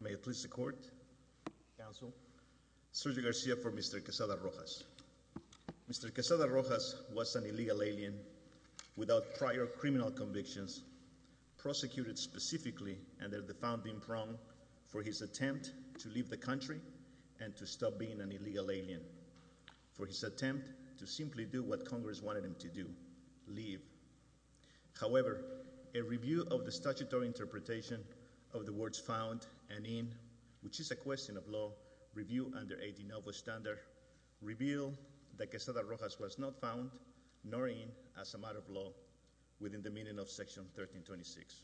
May it please the court, counsel, Sergio Garcia for Mr. Quesada Rojas. Mr. Quesada Rojas was an illegal alien without prior criminal convictions, prosecuted specifically under the founding prong for his attempt to leave the country and to stop being an illegal alien, for his attempt to simply do what Congress wanted him to do, leave. However, a review of the statutory interpretation of the words found and in, which is a question of law, review under a de novo standard, reveal that Quesada Rojas was not found nor in as a matter of law within the meaning of section 1326.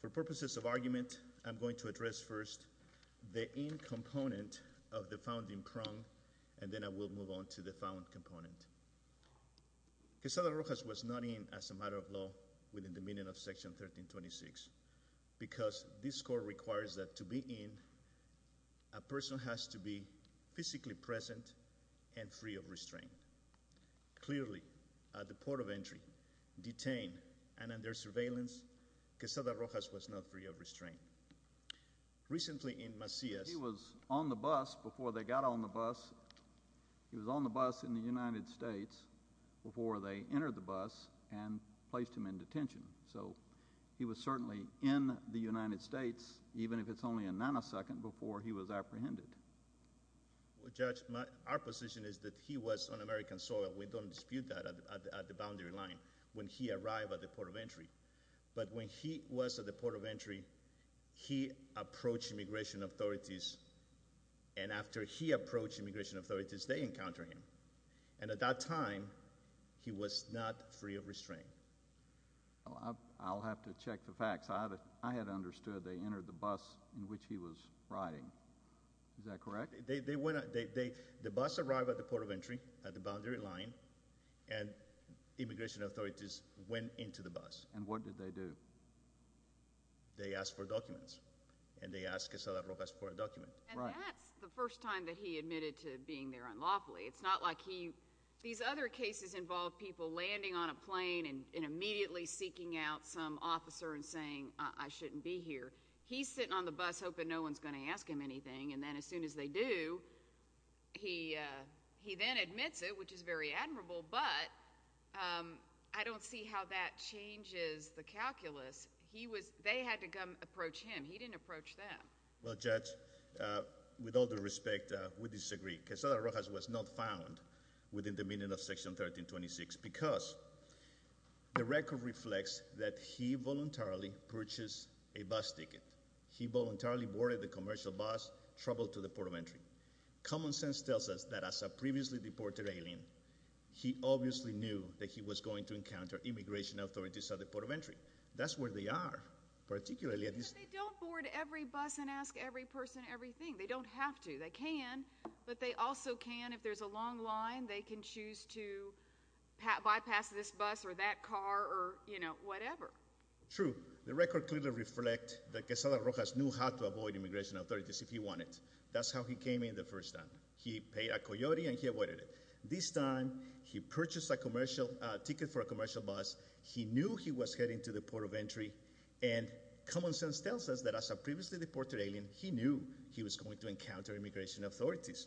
For purposes of argument, I'm going to address first the in component of the founding prong and then we'll move on to the found component. Quesada Rojas was not in as a matter of law within the meaning of section 1326 because this court requires that to be in, a person has to be physically present and free of restraint. Clearly, at the port of entry, detained, and under surveillance, Quesada Rojas was not free of restraint. Recently in Macias, he was on the bus before they got on the bus. He was on the bus in the United States before they entered the bus and placed him in detention. So he was certainly in the United States, even if it's only a nanosecond before he was apprehended. Judge, our position is that he was on American soil. We don't dispute that at the boundary line when he arrived at the port of entry, but when he was at the port of entry, after he approached immigration authorities, they encountered him. And at that time, he was not free of restraint. I'll have to check the facts. I had understood they entered the bus in which he was riding. Is that correct? The bus arrived at the port of entry, at the boundary line, and immigration authorities went into the bus. And what did they do? They asked for documents, and they asked Quesada Rojas for a document. And that's the first time that he admitted to being there unlawfully. It's not like he, these other cases involve people landing on a plane and immediately seeking out some officer and saying, I shouldn't be here. He's sitting on the bus hoping no one's going to ask him anything, and then as soon as they do, he then admits it, which is very admirable, but I don't see how that with all due respect, we disagree. Quesada Rojas was not found within the meaning of section 1326 because the record reflects that he voluntarily purchased a bus ticket. He voluntarily boarded the commercial bus, traveled to the port of entry. Common sense tells us that as a previously deported alien, he obviously knew that he was going to encounter immigration authorities at the port of entry. That's where they are, particularly at this- They don't board every bus and ask every person everything. They don't have to. They can, but they also can, if there's a long line, they can choose to bypass this bus or that car or, you know, whatever. True. The record clearly reflects that Quesada Rojas knew how to avoid immigration authorities if he wanted. That's how he came in the first time. He paid a coyote, and he avoided it. This time, he purchased a commercial ticket for a commercial bus. He knew he was heading to the port of entry, and common sense tells us that as a previously deported alien, he knew he was going to encounter immigration authorities.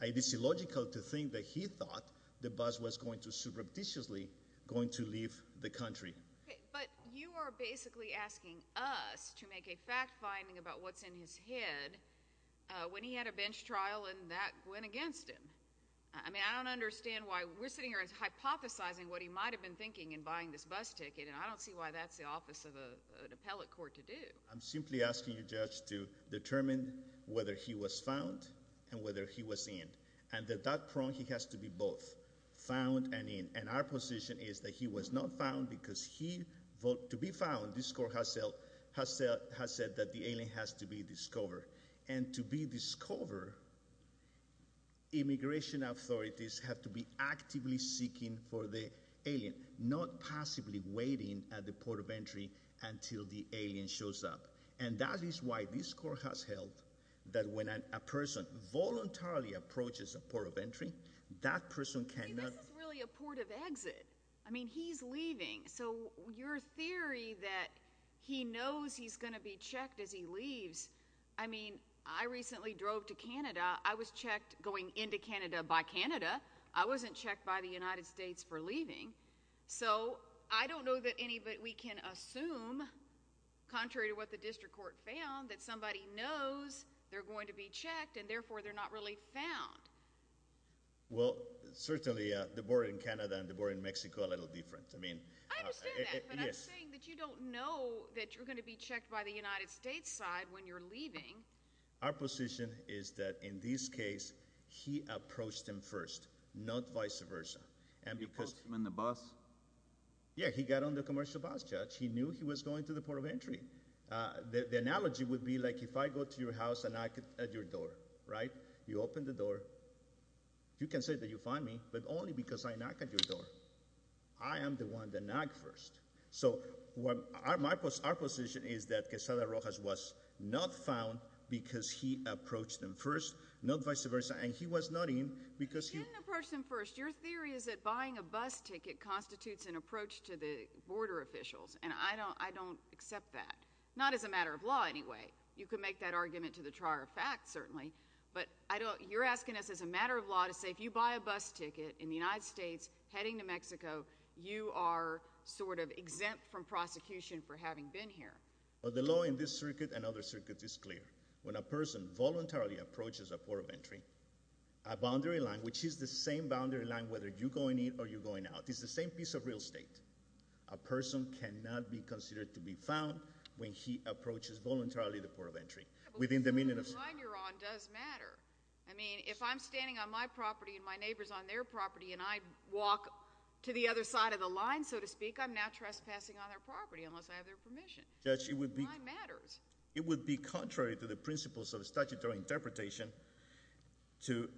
It is illogical to think that he thought the bus was going to surreptitiously going to leave the country. But you are basically asking us to make a fact-finding about what's in his head when he had a bench trial and that went against him. I mean, I don't understand why we're sitting here as hypothesizing what he might have been thinking in buying this appellate court to do. I'm simply asking you, Judge, to determine whether he was found and whether he was in. And at that point, he has to be both found and in. And our position is that he was not found because he, to be found, this court has said that the alien has to be discovered. And to be discovered, immigration authorities have to be actively seeking for the alien, not passively waiting at the port of entry until the alien shows up. And that is why this court has held that when a person voluntarily approaches a port of entry, that person cannot- I mean, this is really a port of exit. I mean, he's leaving. So your theory that he knows he's going to be checked as he leaves, I mean, I recently drove to Canada. I was checked going into Canada by Canada. I wasn't checked by the United States for leaving. So I don't know that any- but we can assume, contrary to what the district court found, that somebody knows they're going to be checked, and therefore they're not really found. Well, certainly the board in Canada and the board in Mexico are a little different. I mean- I understand that, but I'm saying that you don't know that you're going to be checked by the United States side when you're leaving. Our position is that in this case, he approached him first, not vice versa. And because- You approached him in the bus? Yeah, he got on the commercial bus, Judge. He knew he was going to the port of entry. The analogy would be like if I go to your house and knock at your door, right? You open the door. You can say that you find me, but only because I knock at your door. I am the one that So our position is that Quezada Rojas was not found because he approached him first, not vice versa, and he was not in because he- You didn't approach him first. Your theory is that buying a bus ticket constitutes an approach to the border officials, and I don't accept that. Not as a matter of law, anyway. You can make that argument to the trier of fact, certainly, but you're asking us as a matter of law to say if you buy a bus ticket in the United States heading to Mexico, you are sort of exempt from prosecution for having been here. Well, the law in this circuit and other circuits is clear. When a person voluntarily approaches a port of entry, a boundary line, which is the same boundary line whether you're going in or you're going out, it's the same piece of real estate. A person cannot be considered to be found when he approaches voluntarily the port of entry within the meaning of- The line you're on does matter. I mean, if I'm standing on my property and my neighbor's on their property and I walk to the other side of the line, so to speak, I'm now trespassing on their property unless I have their permission. The line matters. Judge, it would be contrary to the principles of statutory interpretation to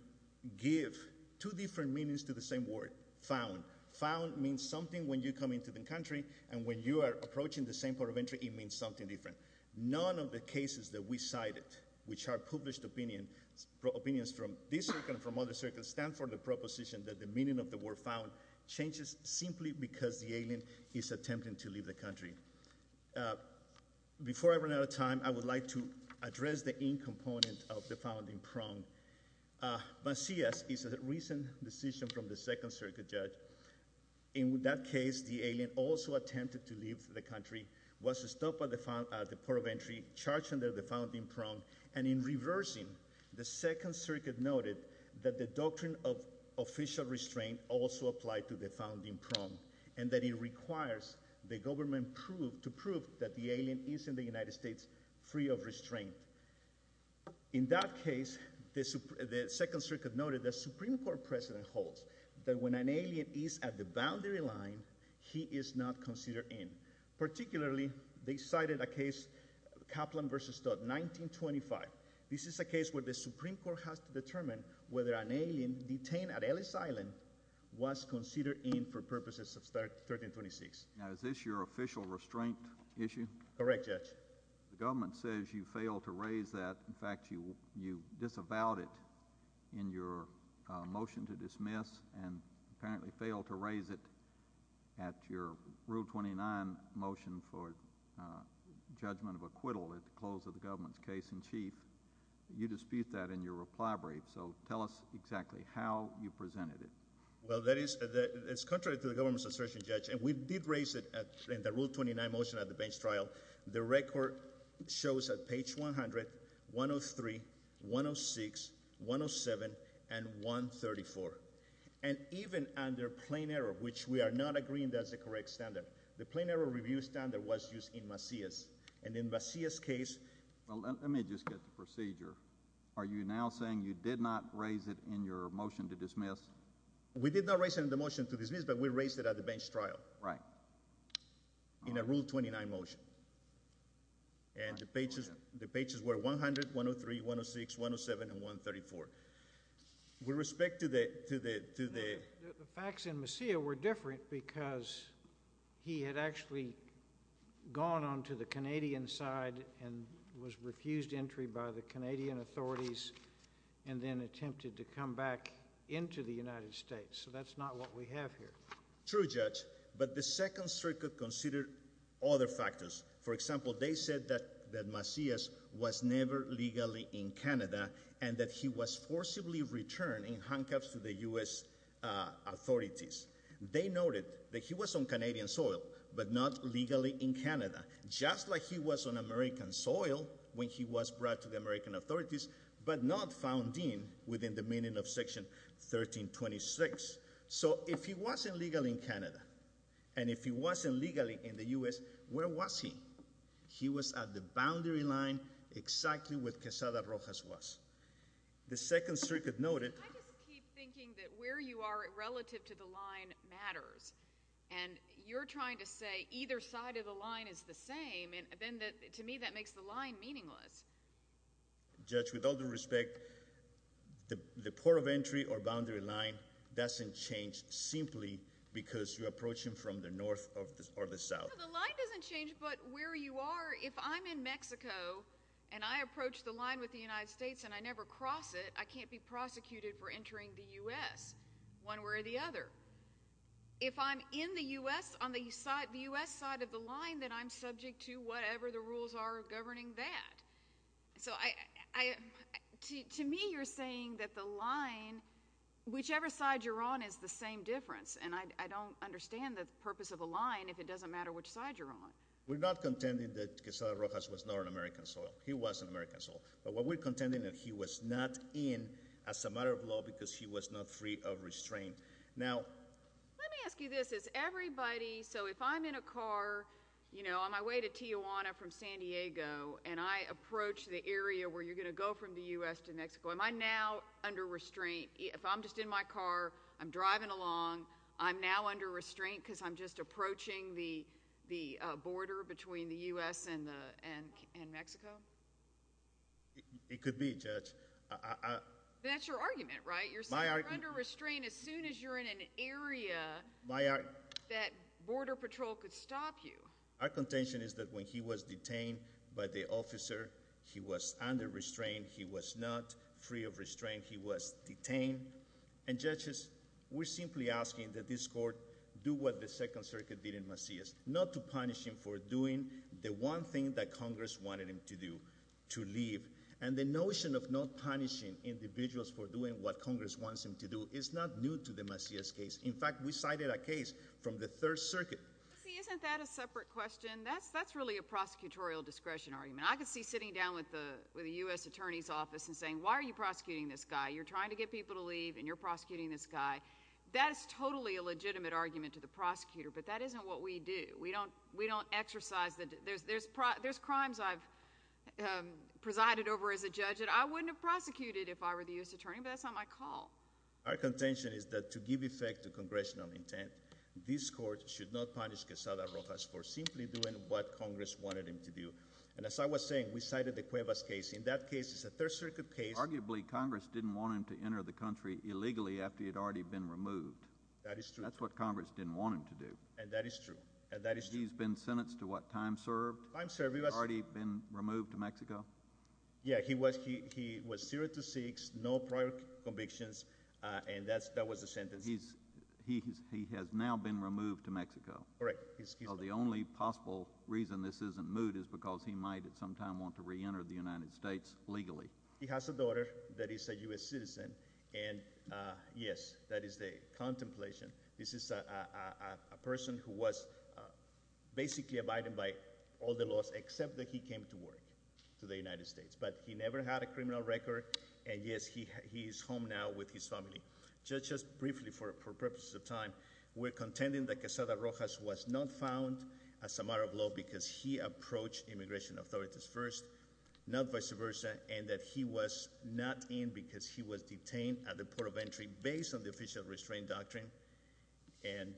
give two different meanings to the same word, found. Found means something when you come into the country, and when you are approaching the same port of entry, it means something different. None of the cases that we cited, which are published opinions from this circuit and from other circuits, stand for the proposition that the meaning of the word found changes simply because the alien is attempting to leave the country. Before I run out of time, I would like to address the in-component of the founding prong. Macias is a recent decision from the Second Circuit, Judge. In that case, the alien also attempted to leave the country, was stopped at the port of entry, charged under the founding prong, and in reversing, the Second Circuit noted that the doctrine of official restraint also applied to the founding prong, and that it requires the government to prove that the alien is in the United States free of restraint. In that case, the Second Circuit noted the Supreme Court precedent holds that when an alien is at the boundary line, he is not considered in. Particularly, they cited a case, Kaplan v. Studd, 1925. This is a case where the Supreme Court has to determine whether an alien detained at Ellis Island was considered in for purposes of 1326. Now, is this your official restraint issue? Correct, Judge. The government says you failed to raise that. In fact, you disavowed it in your motion to dismiss and apparently failed to raise it at your Rule 29 motion for judgment of acquittal at the close of the government's case in chief. You dispute that in your reply brief, so tell us exactly how you presented it. Well, that is, it's contrary to the government's assertion, Judge, and we did raise it in the Rule 29 motion at the bench trial. The record shows at page 100, 103, 106, 107, and 134. And even under plain error, which we are not agreeing that's the correct standard, the plain error review standard was used in Macias. And in Macias' case- Well, let me just get the procedure. Are you now saying you did not raise it in your motion to dismiss? We did not raise it in the motion to dismiss, but we raised it at the bench trial. Right. In a Rule 29 motion. And the pages were 100, 103, 106, 107, and 134. With respect to the- The facts in Macias were different because he had actually gone on to the Canadian side and was refused entry by the Canadian authorities and then attempted to come back into the United States. So that's not what we have here. True, Judge, but the Second Circuit considered other factors. For example, they said that Macias was never legally in Canada and that he was forcibly returned in handcuffs to the US authorities. They noted that he was on Canadian soil, but not legally in Canada. Just like he was on American soil when he was brought to the American authorities, but not found in within the meaning of Section 1326. So if he wasn't legally in Canada, and if he wasn't legally in the US, where was he? He was at the boundary line exactly where Quesada Rojas was. The Second Circuit noted- I just keep thinking that where you are relative to the line matters. And you're trying to say either side of the line is the same, and then to me that makes the line meaningless. Judge, with all due respect, the port of entry or boundary line doesn't change simply because you're approaching from the north or the south. No, the line doesn't change, but where you are, if I'm in Mexico and I approach the line with the United States and I never cross it, I can't be prosecuted for entering the US one way or the other. If I'm in the US on the US side of the line, then I'm subject to whatever the rules are governing that. So to me you're saying that the line, whichever side you're on is the same difference, and I don't understand the purpose of the line if it doesn't matter which side you're on. We're not contending that Quesada Rojas was not on American soil. He was on American soil. But we're contending that he was not in as a matter of law because he was not free of restraint. Now— Let me ask you this. Is everybody—so if I'm in a car, you know, on my way to Tijuana from San Diego, and I approach the area where you're going to go from the US to Mexico, am I now under restraint? If I'm just in my car, I'm driving along, I'm now under restraint because I'm just approaching the border between the US and Mexico? It could be, Judge. That's your argument, right? You're saying you're under restraint as soon as you're in an area that Border Patrol could stop you. Our contention is that when he was detained by the officer, he was under restraint. He was not free of restraint. He was detained. And, Judges, we're simply asking that this Court do what the Second Circuit did in Macias, not to punish him for doing the one thing that Congress wanted him to do, to leave. And the notion of not punishing individuals for doing what Congress wants them to do is not new to the Macias case. In fact, we cited a case from the Third Circuit. See, isn't that a separate question? That's really a prosecutorial discretion argument. I could see sitting down with the US Attorney's Office and saying, why are you prosecuting this guy? You're trying to get people to leave, and you're prosecuting this guy. That is totally a legitimate argument to the prosecutor, but that isn't what we do. We don't exercise that. There's crimes I've presided over as a judge that I wouldn't have prosecuted if I were the US Attorney, but that's not my call. Our contention is that to give effect to congressional intent, this Court should not punish Quezada Rojas for simply doing what Congress wanted him to do. And as I was saying, we cited the Cuevas case. In that case, it's a Third Circuit case. Arguably, Congress didn't want him to enter the country illegally after he had already been removed. That is true. That's what Congress didn't want him to do. And that is true. He's been sentenced to what, time served? Time served. He's already been removed to Mexico? Yeah, he was zero to six, no prior convictions, and that was the sentence. He has now been removed to Mexico. Correct. So the only possible reason this isn't moot is because he might at some time want to reenter the United States legally. He has a daughter that is a US citizen, and yes, that is a contemplation. This is a person who was basically abided by all the laws except that he came to work to the United States. But he never had a criminal record, and yes, he is home now with his family. Just briefly for purposes of time, we're contending that Quezada Rojas was not found as a matter of law because he approached immigration authorities first, not vice versa, and that he was not in because he was detained at the port of entry based on the official restraint doctrine. And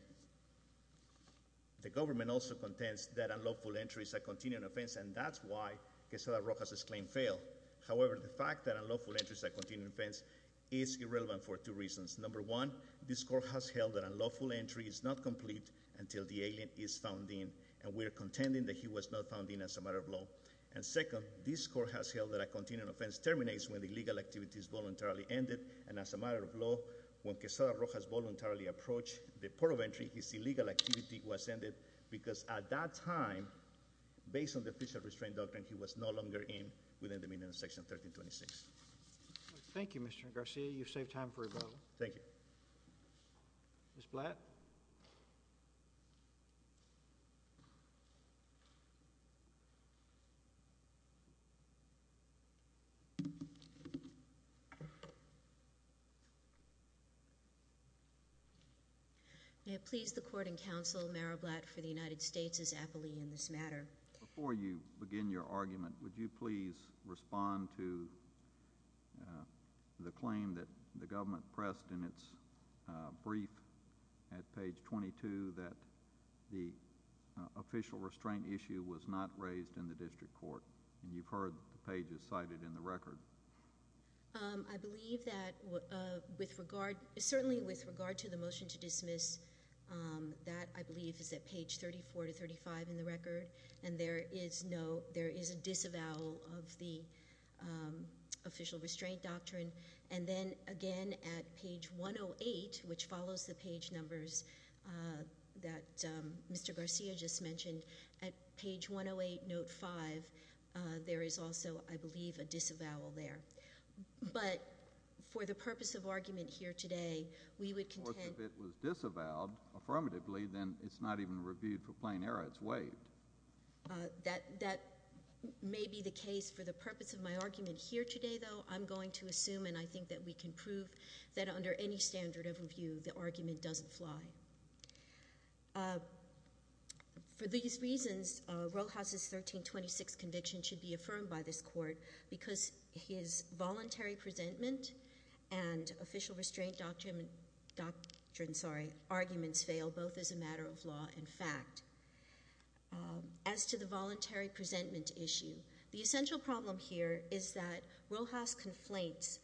the government also contends that unlawful entry is a continuing offense, and that's why Quezada Rojas' claim failed. However, the fact that unlawful entry is a continuing offense is irrelevant for two reasons. Number one, this court has held that unlawful entry is not complete until the alien is found in, and we are contending that he was not found in as a matter of law. And second, this court has held that a continuing offense terminates when the legal activity is voluntarily ended, and as a matter of law, when Quezada Rojas voluntarily approached the port of entry, his illegal activity was ended because at that time, based on the official restraint doctrine, he was no longer in within the meaning of Section 1326. Thank you, Mr. Garcia. You've saved time for rebuttal. Thank you. Ms. Blatt? May it please the Court and Counsel, Mayor Blatt for the United States is aptly in this matter. Before you begin your argument, would you please respond to the claim that the government pressed in its brief at page 22 that the official restraint issue was not raised in the district court? And you've heard the pages cited in the record. I believe that certainly with regard to the motion to dismiss, that I believe is at page 34 to 35 in the record, and there is a disavowal of the official restraint doctrine. And then, again, at page 108, which follows the page numbers that Mr. Garcia just mentioned, at page 108, note 5, there is also, I believe, a disavowal there. But for the purpose of argument here today, we would contend— Of course, if it was disavowed affirmatively, then it's not even reviewed for plain error. It's waived. That may be the case. For the purpose of my argument here today, though, I'm going to assume, and I think that we can prove, that under any standard of review, the argument doesn't fly. For these reasons, Roehouse's 1326 conviction should be affirmed by this Court because his voluntary presentment and official restraint doctrine—sorry—arguments fail, both as a matter of law and fact. As to the voluntary presentment issue, the essential problem here is that Roehouse conflates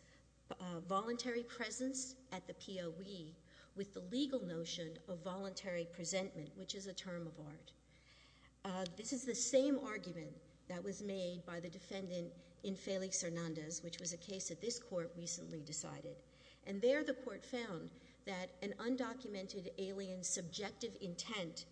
voluntary presence at the POE with the legal notion of voluntary presentment, which is a term of art. This is the same argument that was made by the defendant in Felix Hernandez, which was a case that this Court recently decided. And there the Court found that an undocumented alien's subjective intent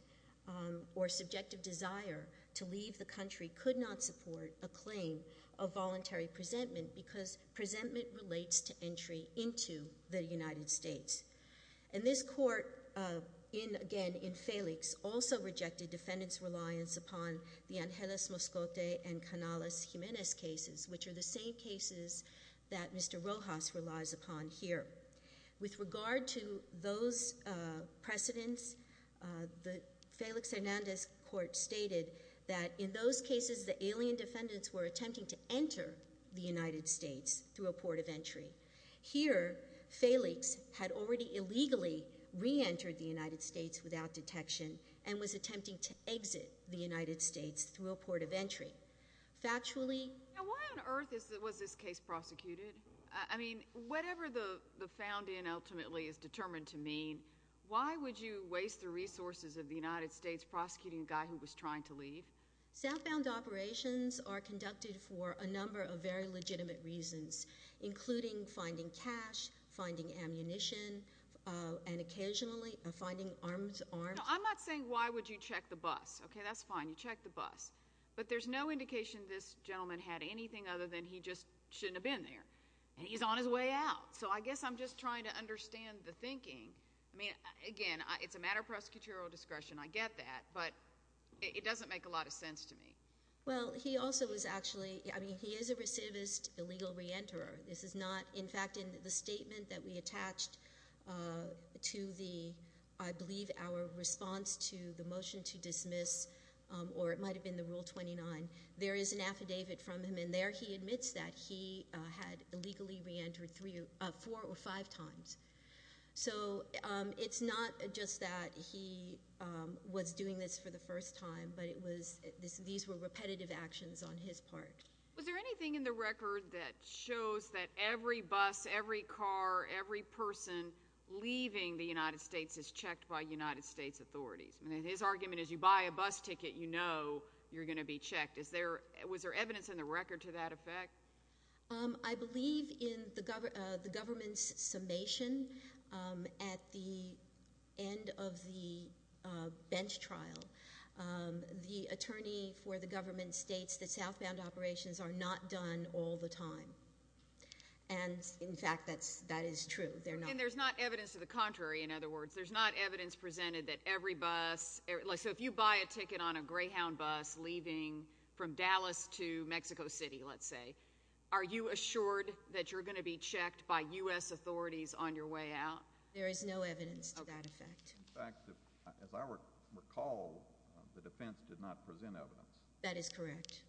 or subjective desire to leave the country could not support a claim of voluntary presentment because presentment relates to entry into the United States. And this Court, again, in Felix, also rejected defendants' reliance upon the Angeles Moscote and Canales Jimenez cases, which are the same cases that Mr. Roehouse relies upon here. With regard to those precedents, the Felix Hernandez Court stated that in those cases, the alien defendants were attempting to enter the United States through a port of entry. Here, Felix had already illegally reentered the United States without detection and was attempting to exit the United States through a port of entry. Now, why on earth was this case prosecuted? I mean, whatever the found in ultimately is determined to mean, why would you waste the resources of the United States prosecuting a guy who was trying to leave? Sound bound operations are conducted for a number of very legitimate reasons, including finding cash, finding ammunition, and occasionally finding armed— No, I'm not saying why would you check the bus. Okay, that's fine. You check the bus. But there's no indication this gentleman had anything other than he just shouldn't have been there. And he's on his way out. So I guess I'm just trying to understand the thinking. I mean, again, it's a matter of prosecutorial discretion. I get that. But it doesn't make a lot of sense to me. Well, he also was actually—I mean, he is a recidivist illegal reenterer. This is not—in fact, in the statement that we attached to the, I believe, our response to the motion to dismiss, or it might have been the Rule 29, there is an affidavit from him. And there he admits that he had illegally reentered four or five times. So it's not just that he was doing this for the first time, but it was—these were repetitive actions on his part. Was there anything in the record that shows that every bus, every car, every person leaving the United States is checked by United States authorities? I mean, his argument is you buy a bus ticket, you know you're going to be checked. Was there evidence in the record to that effect? I believe in the government's summation at the end of the bench trial, the attorney for the government states that southbound operations are not done all the time. And, in fact, that is true. They're not. And there's not evidence to the contrary, in other words. There's not evidence presented that every bus—so if you buy a ticket on a Greyhound bus leaving from Dallas to Mexico City, let's say, are you assured that you're going to be checked by U.S. authorities on your way out? There is no evidence to that effect. In fact, as I recall, the defense did not present evidence. That is correct.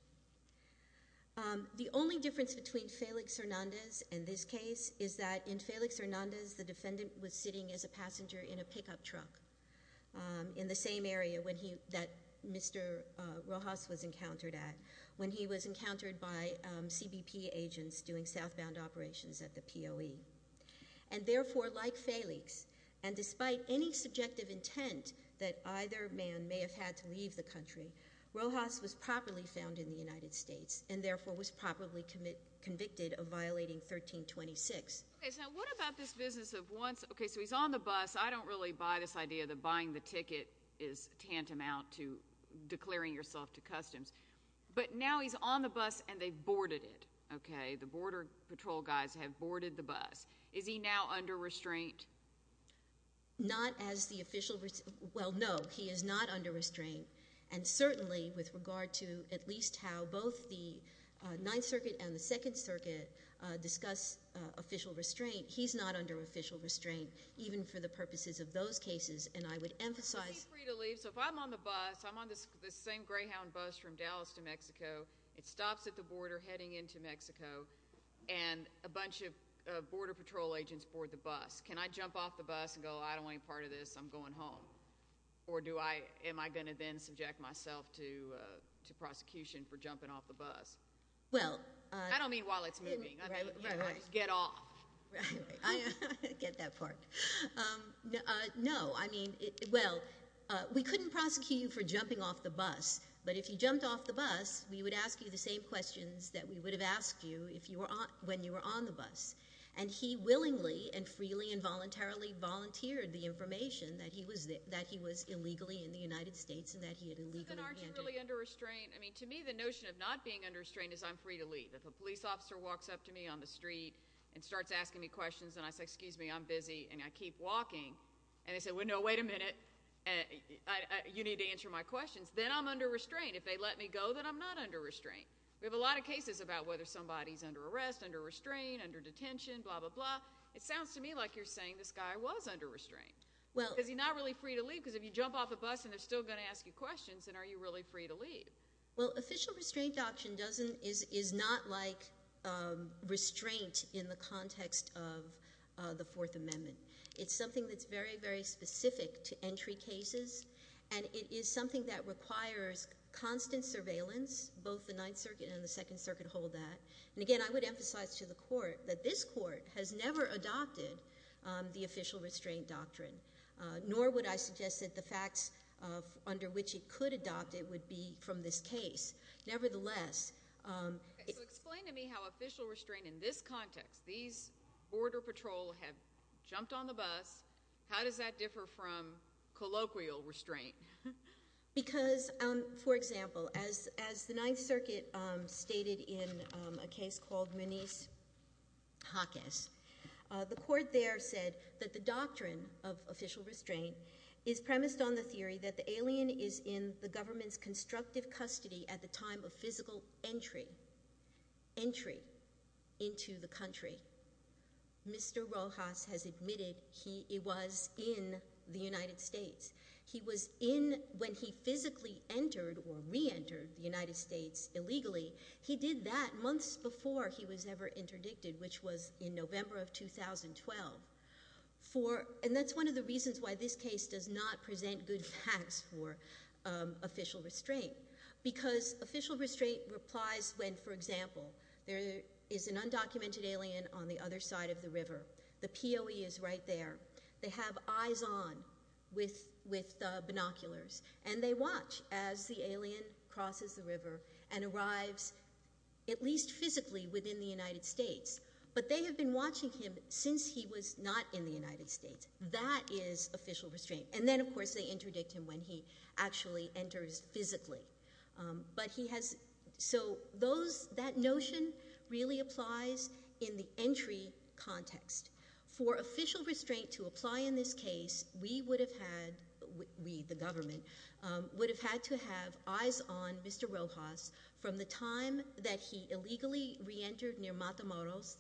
The only difference between Felix Hernandez and this case is that in Felix Hernandez, the defendant was sitting as a passenger in a pickup truck in the same area that Mr. Rojas was encountered at, when he was encountered by CBP agents doing southbound operations at the POE. And, therefore, like Felix, and despite any subjective intent that either man may have had to leave the country, Rojas was properly found in the United States and, therefore, was properly convicted of violating 1326. Okay, so what about this business of once—okay, so he's on the bus. I don't really buy this idea that buying the ticket is tantamount to declaring yourself to customs. But now he's on the bus, and they've boarded it. Okay, the Border Patrol guys have boarded the bus. Is he now under restraint? Not as the official—well, no, he is not under restraint. And, certainly, with regard to at least how both the Ninth Circuit and the Second Circuit discuss official restraint, he's not under official restraint, even for the purposes of those cases. And I would emphasize— He's free to leave. So if I'm on the bus, I'm on this same Greyhound bus from Dallas to Mexico, it stops at the border heading into Mexico, and a bunch of Border Patrol agents board the bus. Can I jump off the bus and go, I don't want any part of this, I'm going home? Or do I—am I going to then subject myself to prosecution for jumping off the bus? Well— I don't mean while it's moving. Right, right. Get off. Right, right. I get that part. No, I mean—well, we couldn't prosecute you for jumping off the bus, but if you jumped off the bus, we would ask you the same questions that we would have asked you when you were on the bus. And he willingly and freely and voluntarily volunteered the information that he was illegally in the United States and that he had illegally handed— So then aren't you really under restraint? I mean, to me, the notion of not being under restraint is I'm free to leave. If a police officer walks up to me on the street and starts asking me questions, and I say, excuse me, I'm busy, and I keep walking, and they say, well, no, wait a minute, you need to answer my questions, then I'm under restraint. If they let me go, then I'm not under restraint. We have a lot of cases about whether somebody's under arrest, under restraint, under detention, blah, blah, blah. It sounds to me like you're saying this guy was under restraint. Well— Because you're not really free to leave, because if you jump off a bus and they're still going to ask you questions, then are you really free to leave? Well, official restraint option doesn't—is not like restraint in the context of the Fourth Amendment. It's something that's very, very specific to entry cases, and it is something that requires constant surveillance. Both the Ninth Circuit and the Second Circuit hold that. And again, I would emphasize to the court that this court has never adopted the official restraint doctrine, nor would I suggest that the facts under which it could adopt it would be from this case. Nevertheless— So explain to me how official restraint in this context, these Border Patrol have jumped on the bus. How does that differ from colloquial restraint? Because, for example, as the Ninth Circuit stated in a case called Moniz-Hawkins, the court there said that the doctrine of official restraint is premised on the theory that the alien is in the government's constructive custody at the time of physical entry—entry into the country. Mr. Rojas has admitted he was in the United States. He was in when he physically entered or reentered the United States illegally. He did that months before he was ever interdicted, which was in November of 2012. And that's one of the reasons why this case does not present good facts for official restraint, because official restraint applies when, for example, there is an undocumented alien on the other side of the river. The POE is right there. They have eyes on with binoculars, and they watch as the alien crosses the river and arrives at least physically within the United States. But they have been watching him since he was not in the United States. That is official restraint. And then, of course, they interdict him when he actually enters physically. But he has—so those—that notion really applies in the entry context. For official restraint to apply in this case, we would have had—we, the government— would have had to have eyes on Mr. Rojas from the time that he illegally reentered near Matamoros,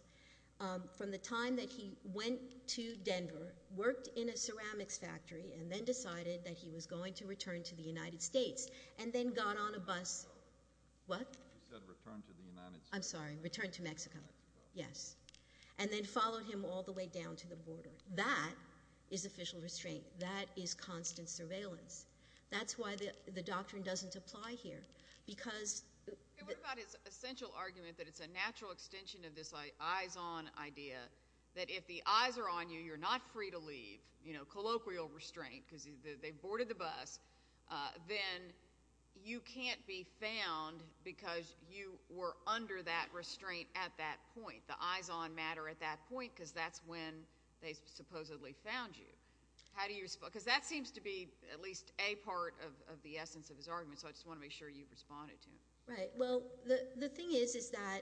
from the time that he went to Denver, worked in a ceramics factory, and then decided that he was going to return to the United States, and then got on a bus—what? He said return to the United States. I'm sorry. Return to Mexico. Mexico. Yes. And then followed him all the way down to the border. That is official restraint. That is constant surveillance. That's why the doctrine doesn't apply here, because— What about his essential argument that it's a natural extension of this eyes-on idea, that if the eyes are on you, you're not free to leave, you know, colloquial restraint, because they boarded the bus, then you can't be found because you were under that restraint at that point, the eyes-on matter at that point, because that's when they supposedly found you. How do you—because that seems to be at least a part of the essence of his argument, so I just want to make sure you've responded to him. Right. Well, the thing is is that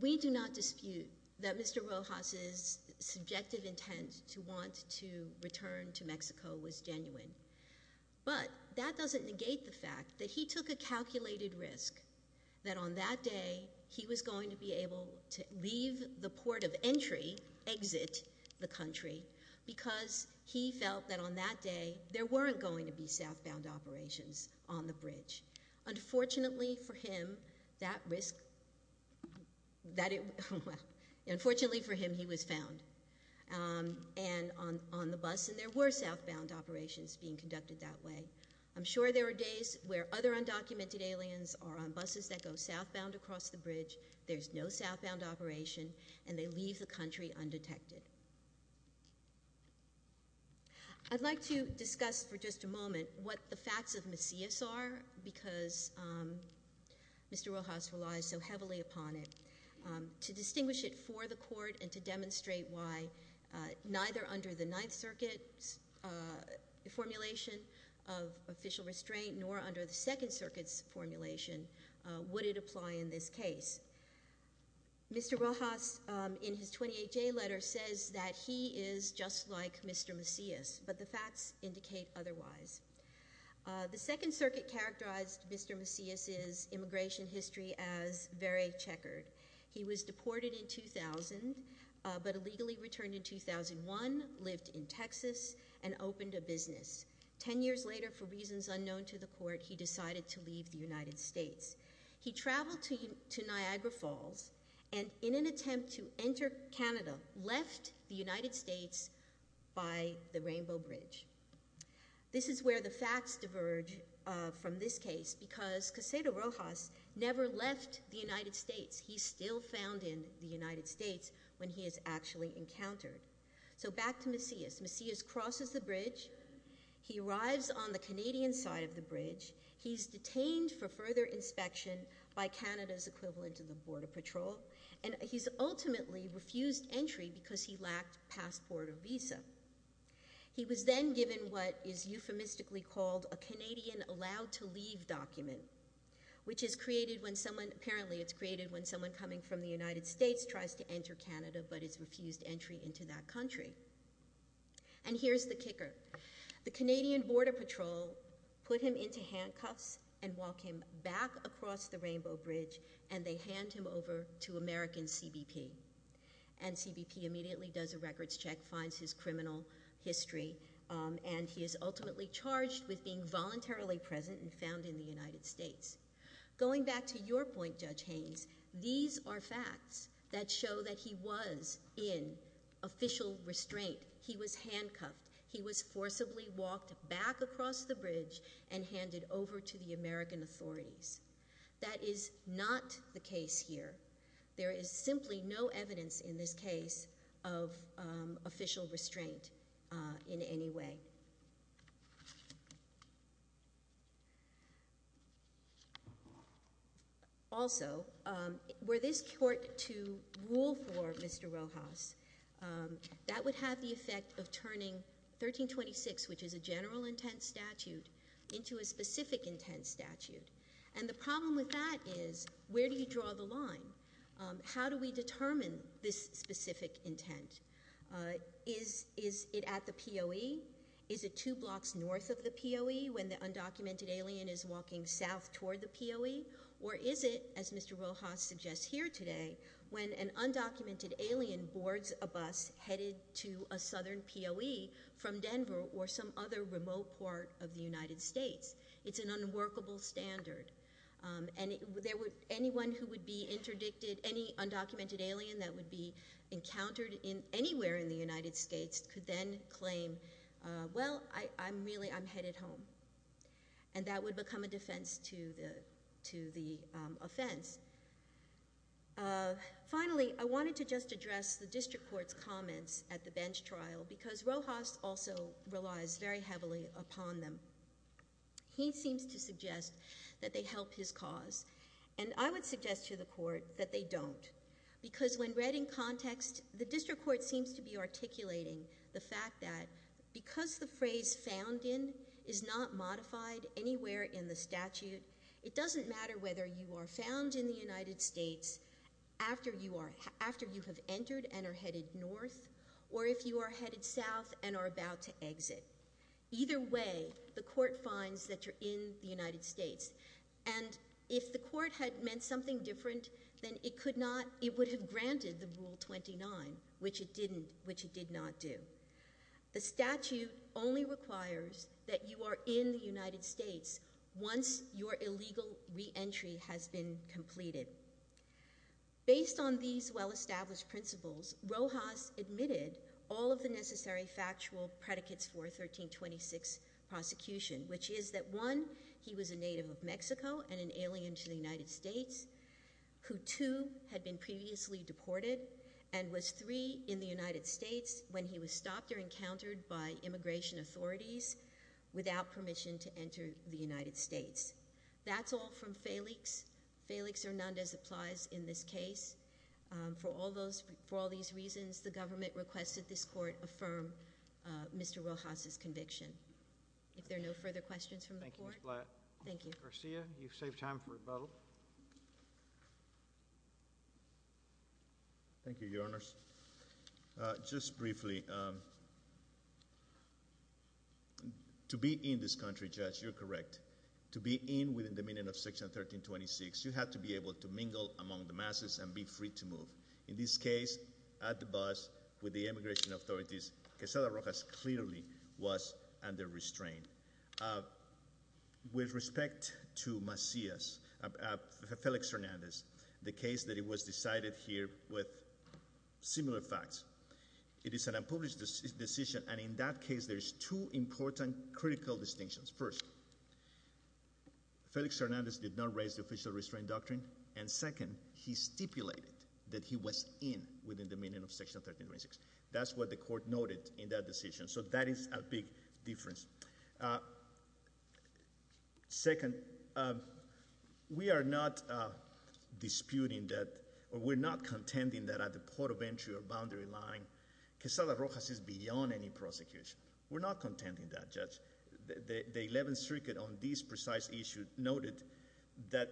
we do not dispute that Mr. Rojas' subjective intent to want to return to Mexico was genuine, but that doesn't negate the fact that he took a calculated risk that on that day he was going to be able to leave the port of entry, exit the country, because he felt that on that day there weren't going to be southbound operations on the bridge. Unfortunately for him, that risk—unfortunately for him, he was found on the bus, and there were southbound operations being conducted that way. I'm sure there were days where other undocumented aliens are on buses that go southbound across the bridge, there's no southbound operation, and they leave the country undetected. I'd like to discuss for just a moment what the facts of Macias are, because Mr. Rojas relies so heavily upon it, to distinguish it for the court and to demonstrate why neither under the Ninth Circuit's formulation of official restraint nor under the Second Circuit's formulation would it apply in this case. Mr. Rojas, in his 28-J letter, says that he is just like Mr. Macias, but the facts indicate otherwise. The Second Circuit characterized Mr. Macias' immigration history as very checkered. He was deported in 2000, but illegally returned in 2001, lived in Texas, and opened a business. Ten years later, for reasons unknown to the court, he decided to leave the United States. He traveled to Niagara Falls, and in an attempt to enter Canada, left the United States by the Rainbow Bridge. This is where the facts diverge from this case, because Quesada Rojas never left the United States. He's still found in the United States when he is actually encountered. So back to Macias. Macias crosses the bridge. He arrives on the Canadian side of the bridge. He's detained for further inspection by Canada's equivalent of the Border Patrol, and he's ultimately refused entry because he lacked passport or visa. He was then given what is euphemistically called a Canadian Allowed to Leave document, which is created when someone coming from the United States tries to enter Canada, but is refused entry into that country. And here's the kicker. The Canadian Border Patrol put him into handcuffs and walk him back across the Rainbow Bridge, and they hand him over to American CBP. And CBP immediately does a records check, finds his criminal history, and he is ultimately charged with being voluntarily present and found in the United States. Going back to your point, Judge Haynes, these are facts that show that he was in official restraint. He was handcuffed. He was forcibly walked back across the bridge and handed over to the American authorities. That is not the case here. There is simply no evidence in this case of official restraint in any way. Also, were this court to rule for Mr. Rojas, that would have the effect of turning 1326, which is a general intent statute, into a specific intent statute. And the problem with that is, where do you draw the line? How do we determine this specific intent? Is it at the POE? Is it two blocks north of the POE, when the undocumented alien is walking south toward the POE? Or is it, as Mr. Rojas suggests here today, when an undocumented alien boards a bus headed to a southern POE from Denver or some other remote part of the United States? It's an unworkable standard. And anyone who would be interdicted, any undocumented alien that would be encountered anywhere in the United States, could then claim, well, I'm headed home. And that would become a defense to the offense. Finally, I wanted to just address the district court's comments at the bench trial, because Rojas also relies very heavily upon them. He seems to suggest that they help his cause. And I would suggest to the court that they don't. Because when read in context, the district court seems to be articulating the fact that because the phrase found in is not modified anywhere in the statute, it doesn't matter whether you are found in the United States after you have entered and are headed north, or if you are headed south and are about to exit. Either way, the court finds that you're in the United States. And if the court had meant something different, then it would have granted the Rule 29, which it did not do. The statute only requires that you are in the United States once your illegal reentry has been completed. Based on these well-established principles, Rojas admitted all of the necessary factual predicates for a 1326 prosecution, which is that, one, he was a native of Mexico and an alien to the United States, who, two, had been previously deported, and was, three, in the United States when he was stopped or encountered by immigration authorities without permission to enter the United States. That's all from Felix. Felix Hernandez applies in this case. For all these reasons, the government requested this court affirm Mr. Rojas's conviction. If there are no further questions from the court. Thank you, Ms. Blatt. Thank you. Garcia, you've saved time for rebuttal. Thank you, Your Honors. Just briefly, to be in this country, Judge, you're correct. To be in within the meaning of Section 1326, you have to be able to mingle among the masses and be free to move. In this case, at the bus, with the immigration authorities, Quezada Rojas clearly was under restraint. With respect to Macias, Felix Hernandez, the case that it was decided here with similar facts, it is an unpublished decision, and in that case there's two important critical distinctions. First, Felix Hernandez did not raise the official restraint doctrine, and second, he stipulated that he was in within the meaning of Section 1326. That's what the court noted in that decision, so that is a big difference. Second, we are not disputing that, or we're not contending that at the port of entry or boundary line, Quezada Rojas is beyond any prosecution. We're not contending that, Judge. The 11th Circuit on this precise issue noted that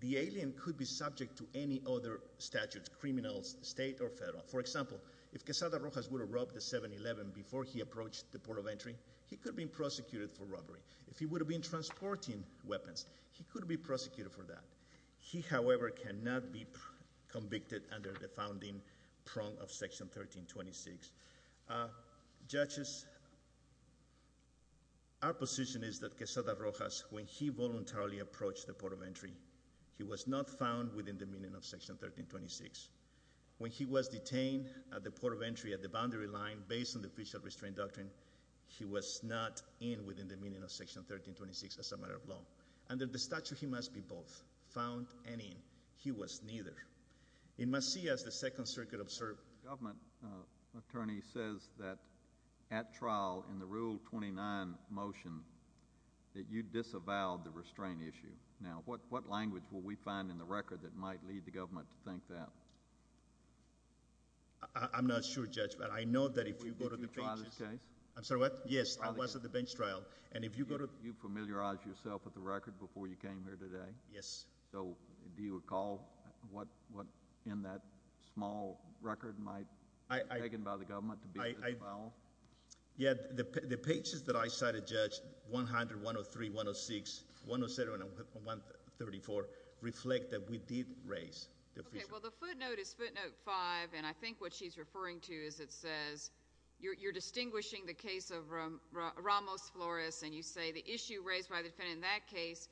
the alien could be subject to any other statute, criminal, state, or federal. For example, if Quezada Rojas would have robbed the 7-11 before he approached the port of entry, he could have been prosecuted for robbery. If he would have been transporting weapons, he could have been prosecuted for that. He, however, cannot be convicted under the founding prong of Section 1326. Judges, our position is that Quezada Rojas, when he voluntarily approached the port of entry, he was not found within the meaning of Section 1326. When he was detained at the port of entry at the boundary line based on the official restraint doctrine, he was not in within the meaning of Section 1326 as a matter of law. Under the statute, he must be both, found and in. He was neither. He must see as the Second Circuit observed. The government attorney says that at trial in the Rule 29 motion that you disavowed the restraint issue. Now, what language will we find in the record that might lead the government to think that? I'm not sure, Judge, but I know that if you go to the benches— Did you try this case? I'm sorry, what? Yes, I was at the bench trial, and if you go to— Did you familiarize yourself with the record before you came here today? Yes. So do you recall what in that small record might have been taken by the government to be disavowed? Yes, the pages that I cited, Judge, 100, 103, 106, 107, and 134, reflect that we did raise the official— Okay, well, the footnote is footnote 5, and I think what she's referring to is it says you're distinguishing the case of Ramos Flores, and you say the issue raised by the defendant in that case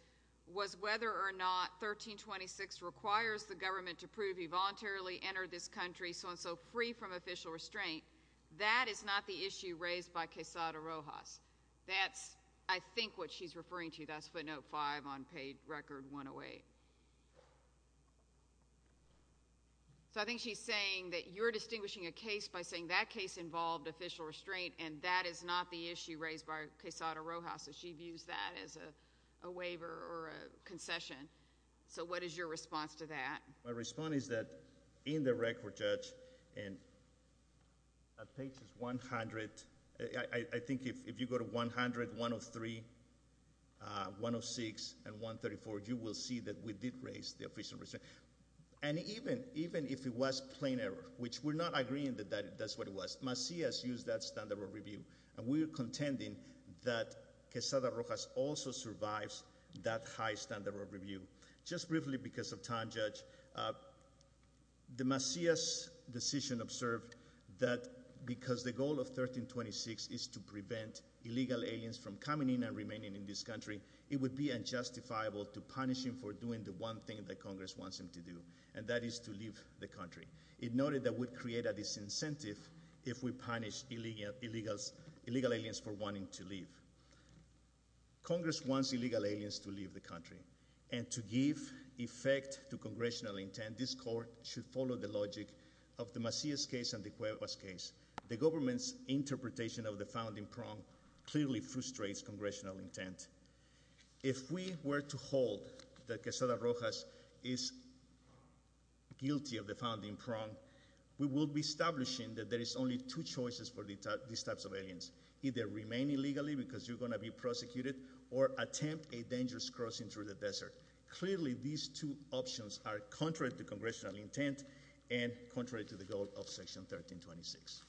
was whether or not 1326 requires the government to prove he voluntarily entered this country so-and-so free from official restraint. That is not the issue raised by Quesada Rojas. That's, I think, what she's referring to. That's footnote 5 on page record 108. So I think she's saying that you're distinguishing a case by saying that case involved official restraint, and that is not the issue raised by Quesada Rojas, so she views that as a waiver or a concession. So what is your response to that? My response is that in the record, Judge, in pages 100—I think if you go to 100, 103, 106, and 134, you will see that we did raise the official restraint. And even if it was plain error, which we're not agreeing that that's what it was, Macias used that standard of review, and we're contending that Quesada Rojas also survives that high standard of review. Just briefly because of time, Judge, the Macias decision observed that because the goal of 1326 is to prevent illegal aliens from coming in and remaining in this country, it would be unjustifiable to punish him for doing the one thing that Congress wants him to do, and that is to leave the country. It noted that would create a disincentive if we punish illegal aliens for wanting to leave. Congress wants illegal aliens to leave the country, and to give effect to congressional intent, this court should follow the logic of the Macias case and the Cuevas case. The government's interpretation of the founding prong clearly frustrates congressional intent. If we were to hold that Quesada Rojas is guilty of the founding prong, we will be establishing that there is only two choices for these types of aliens, either remain illegally because you're going to be prosecuted, or attempt a dangerous crossing through the desert. Clearly, these two options are contrary to congressional intent and contrary to the goal of Section 1326.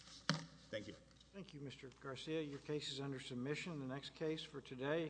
Thank you. Thank you, Mr. Garcia. Your case is under submission. The next case for today.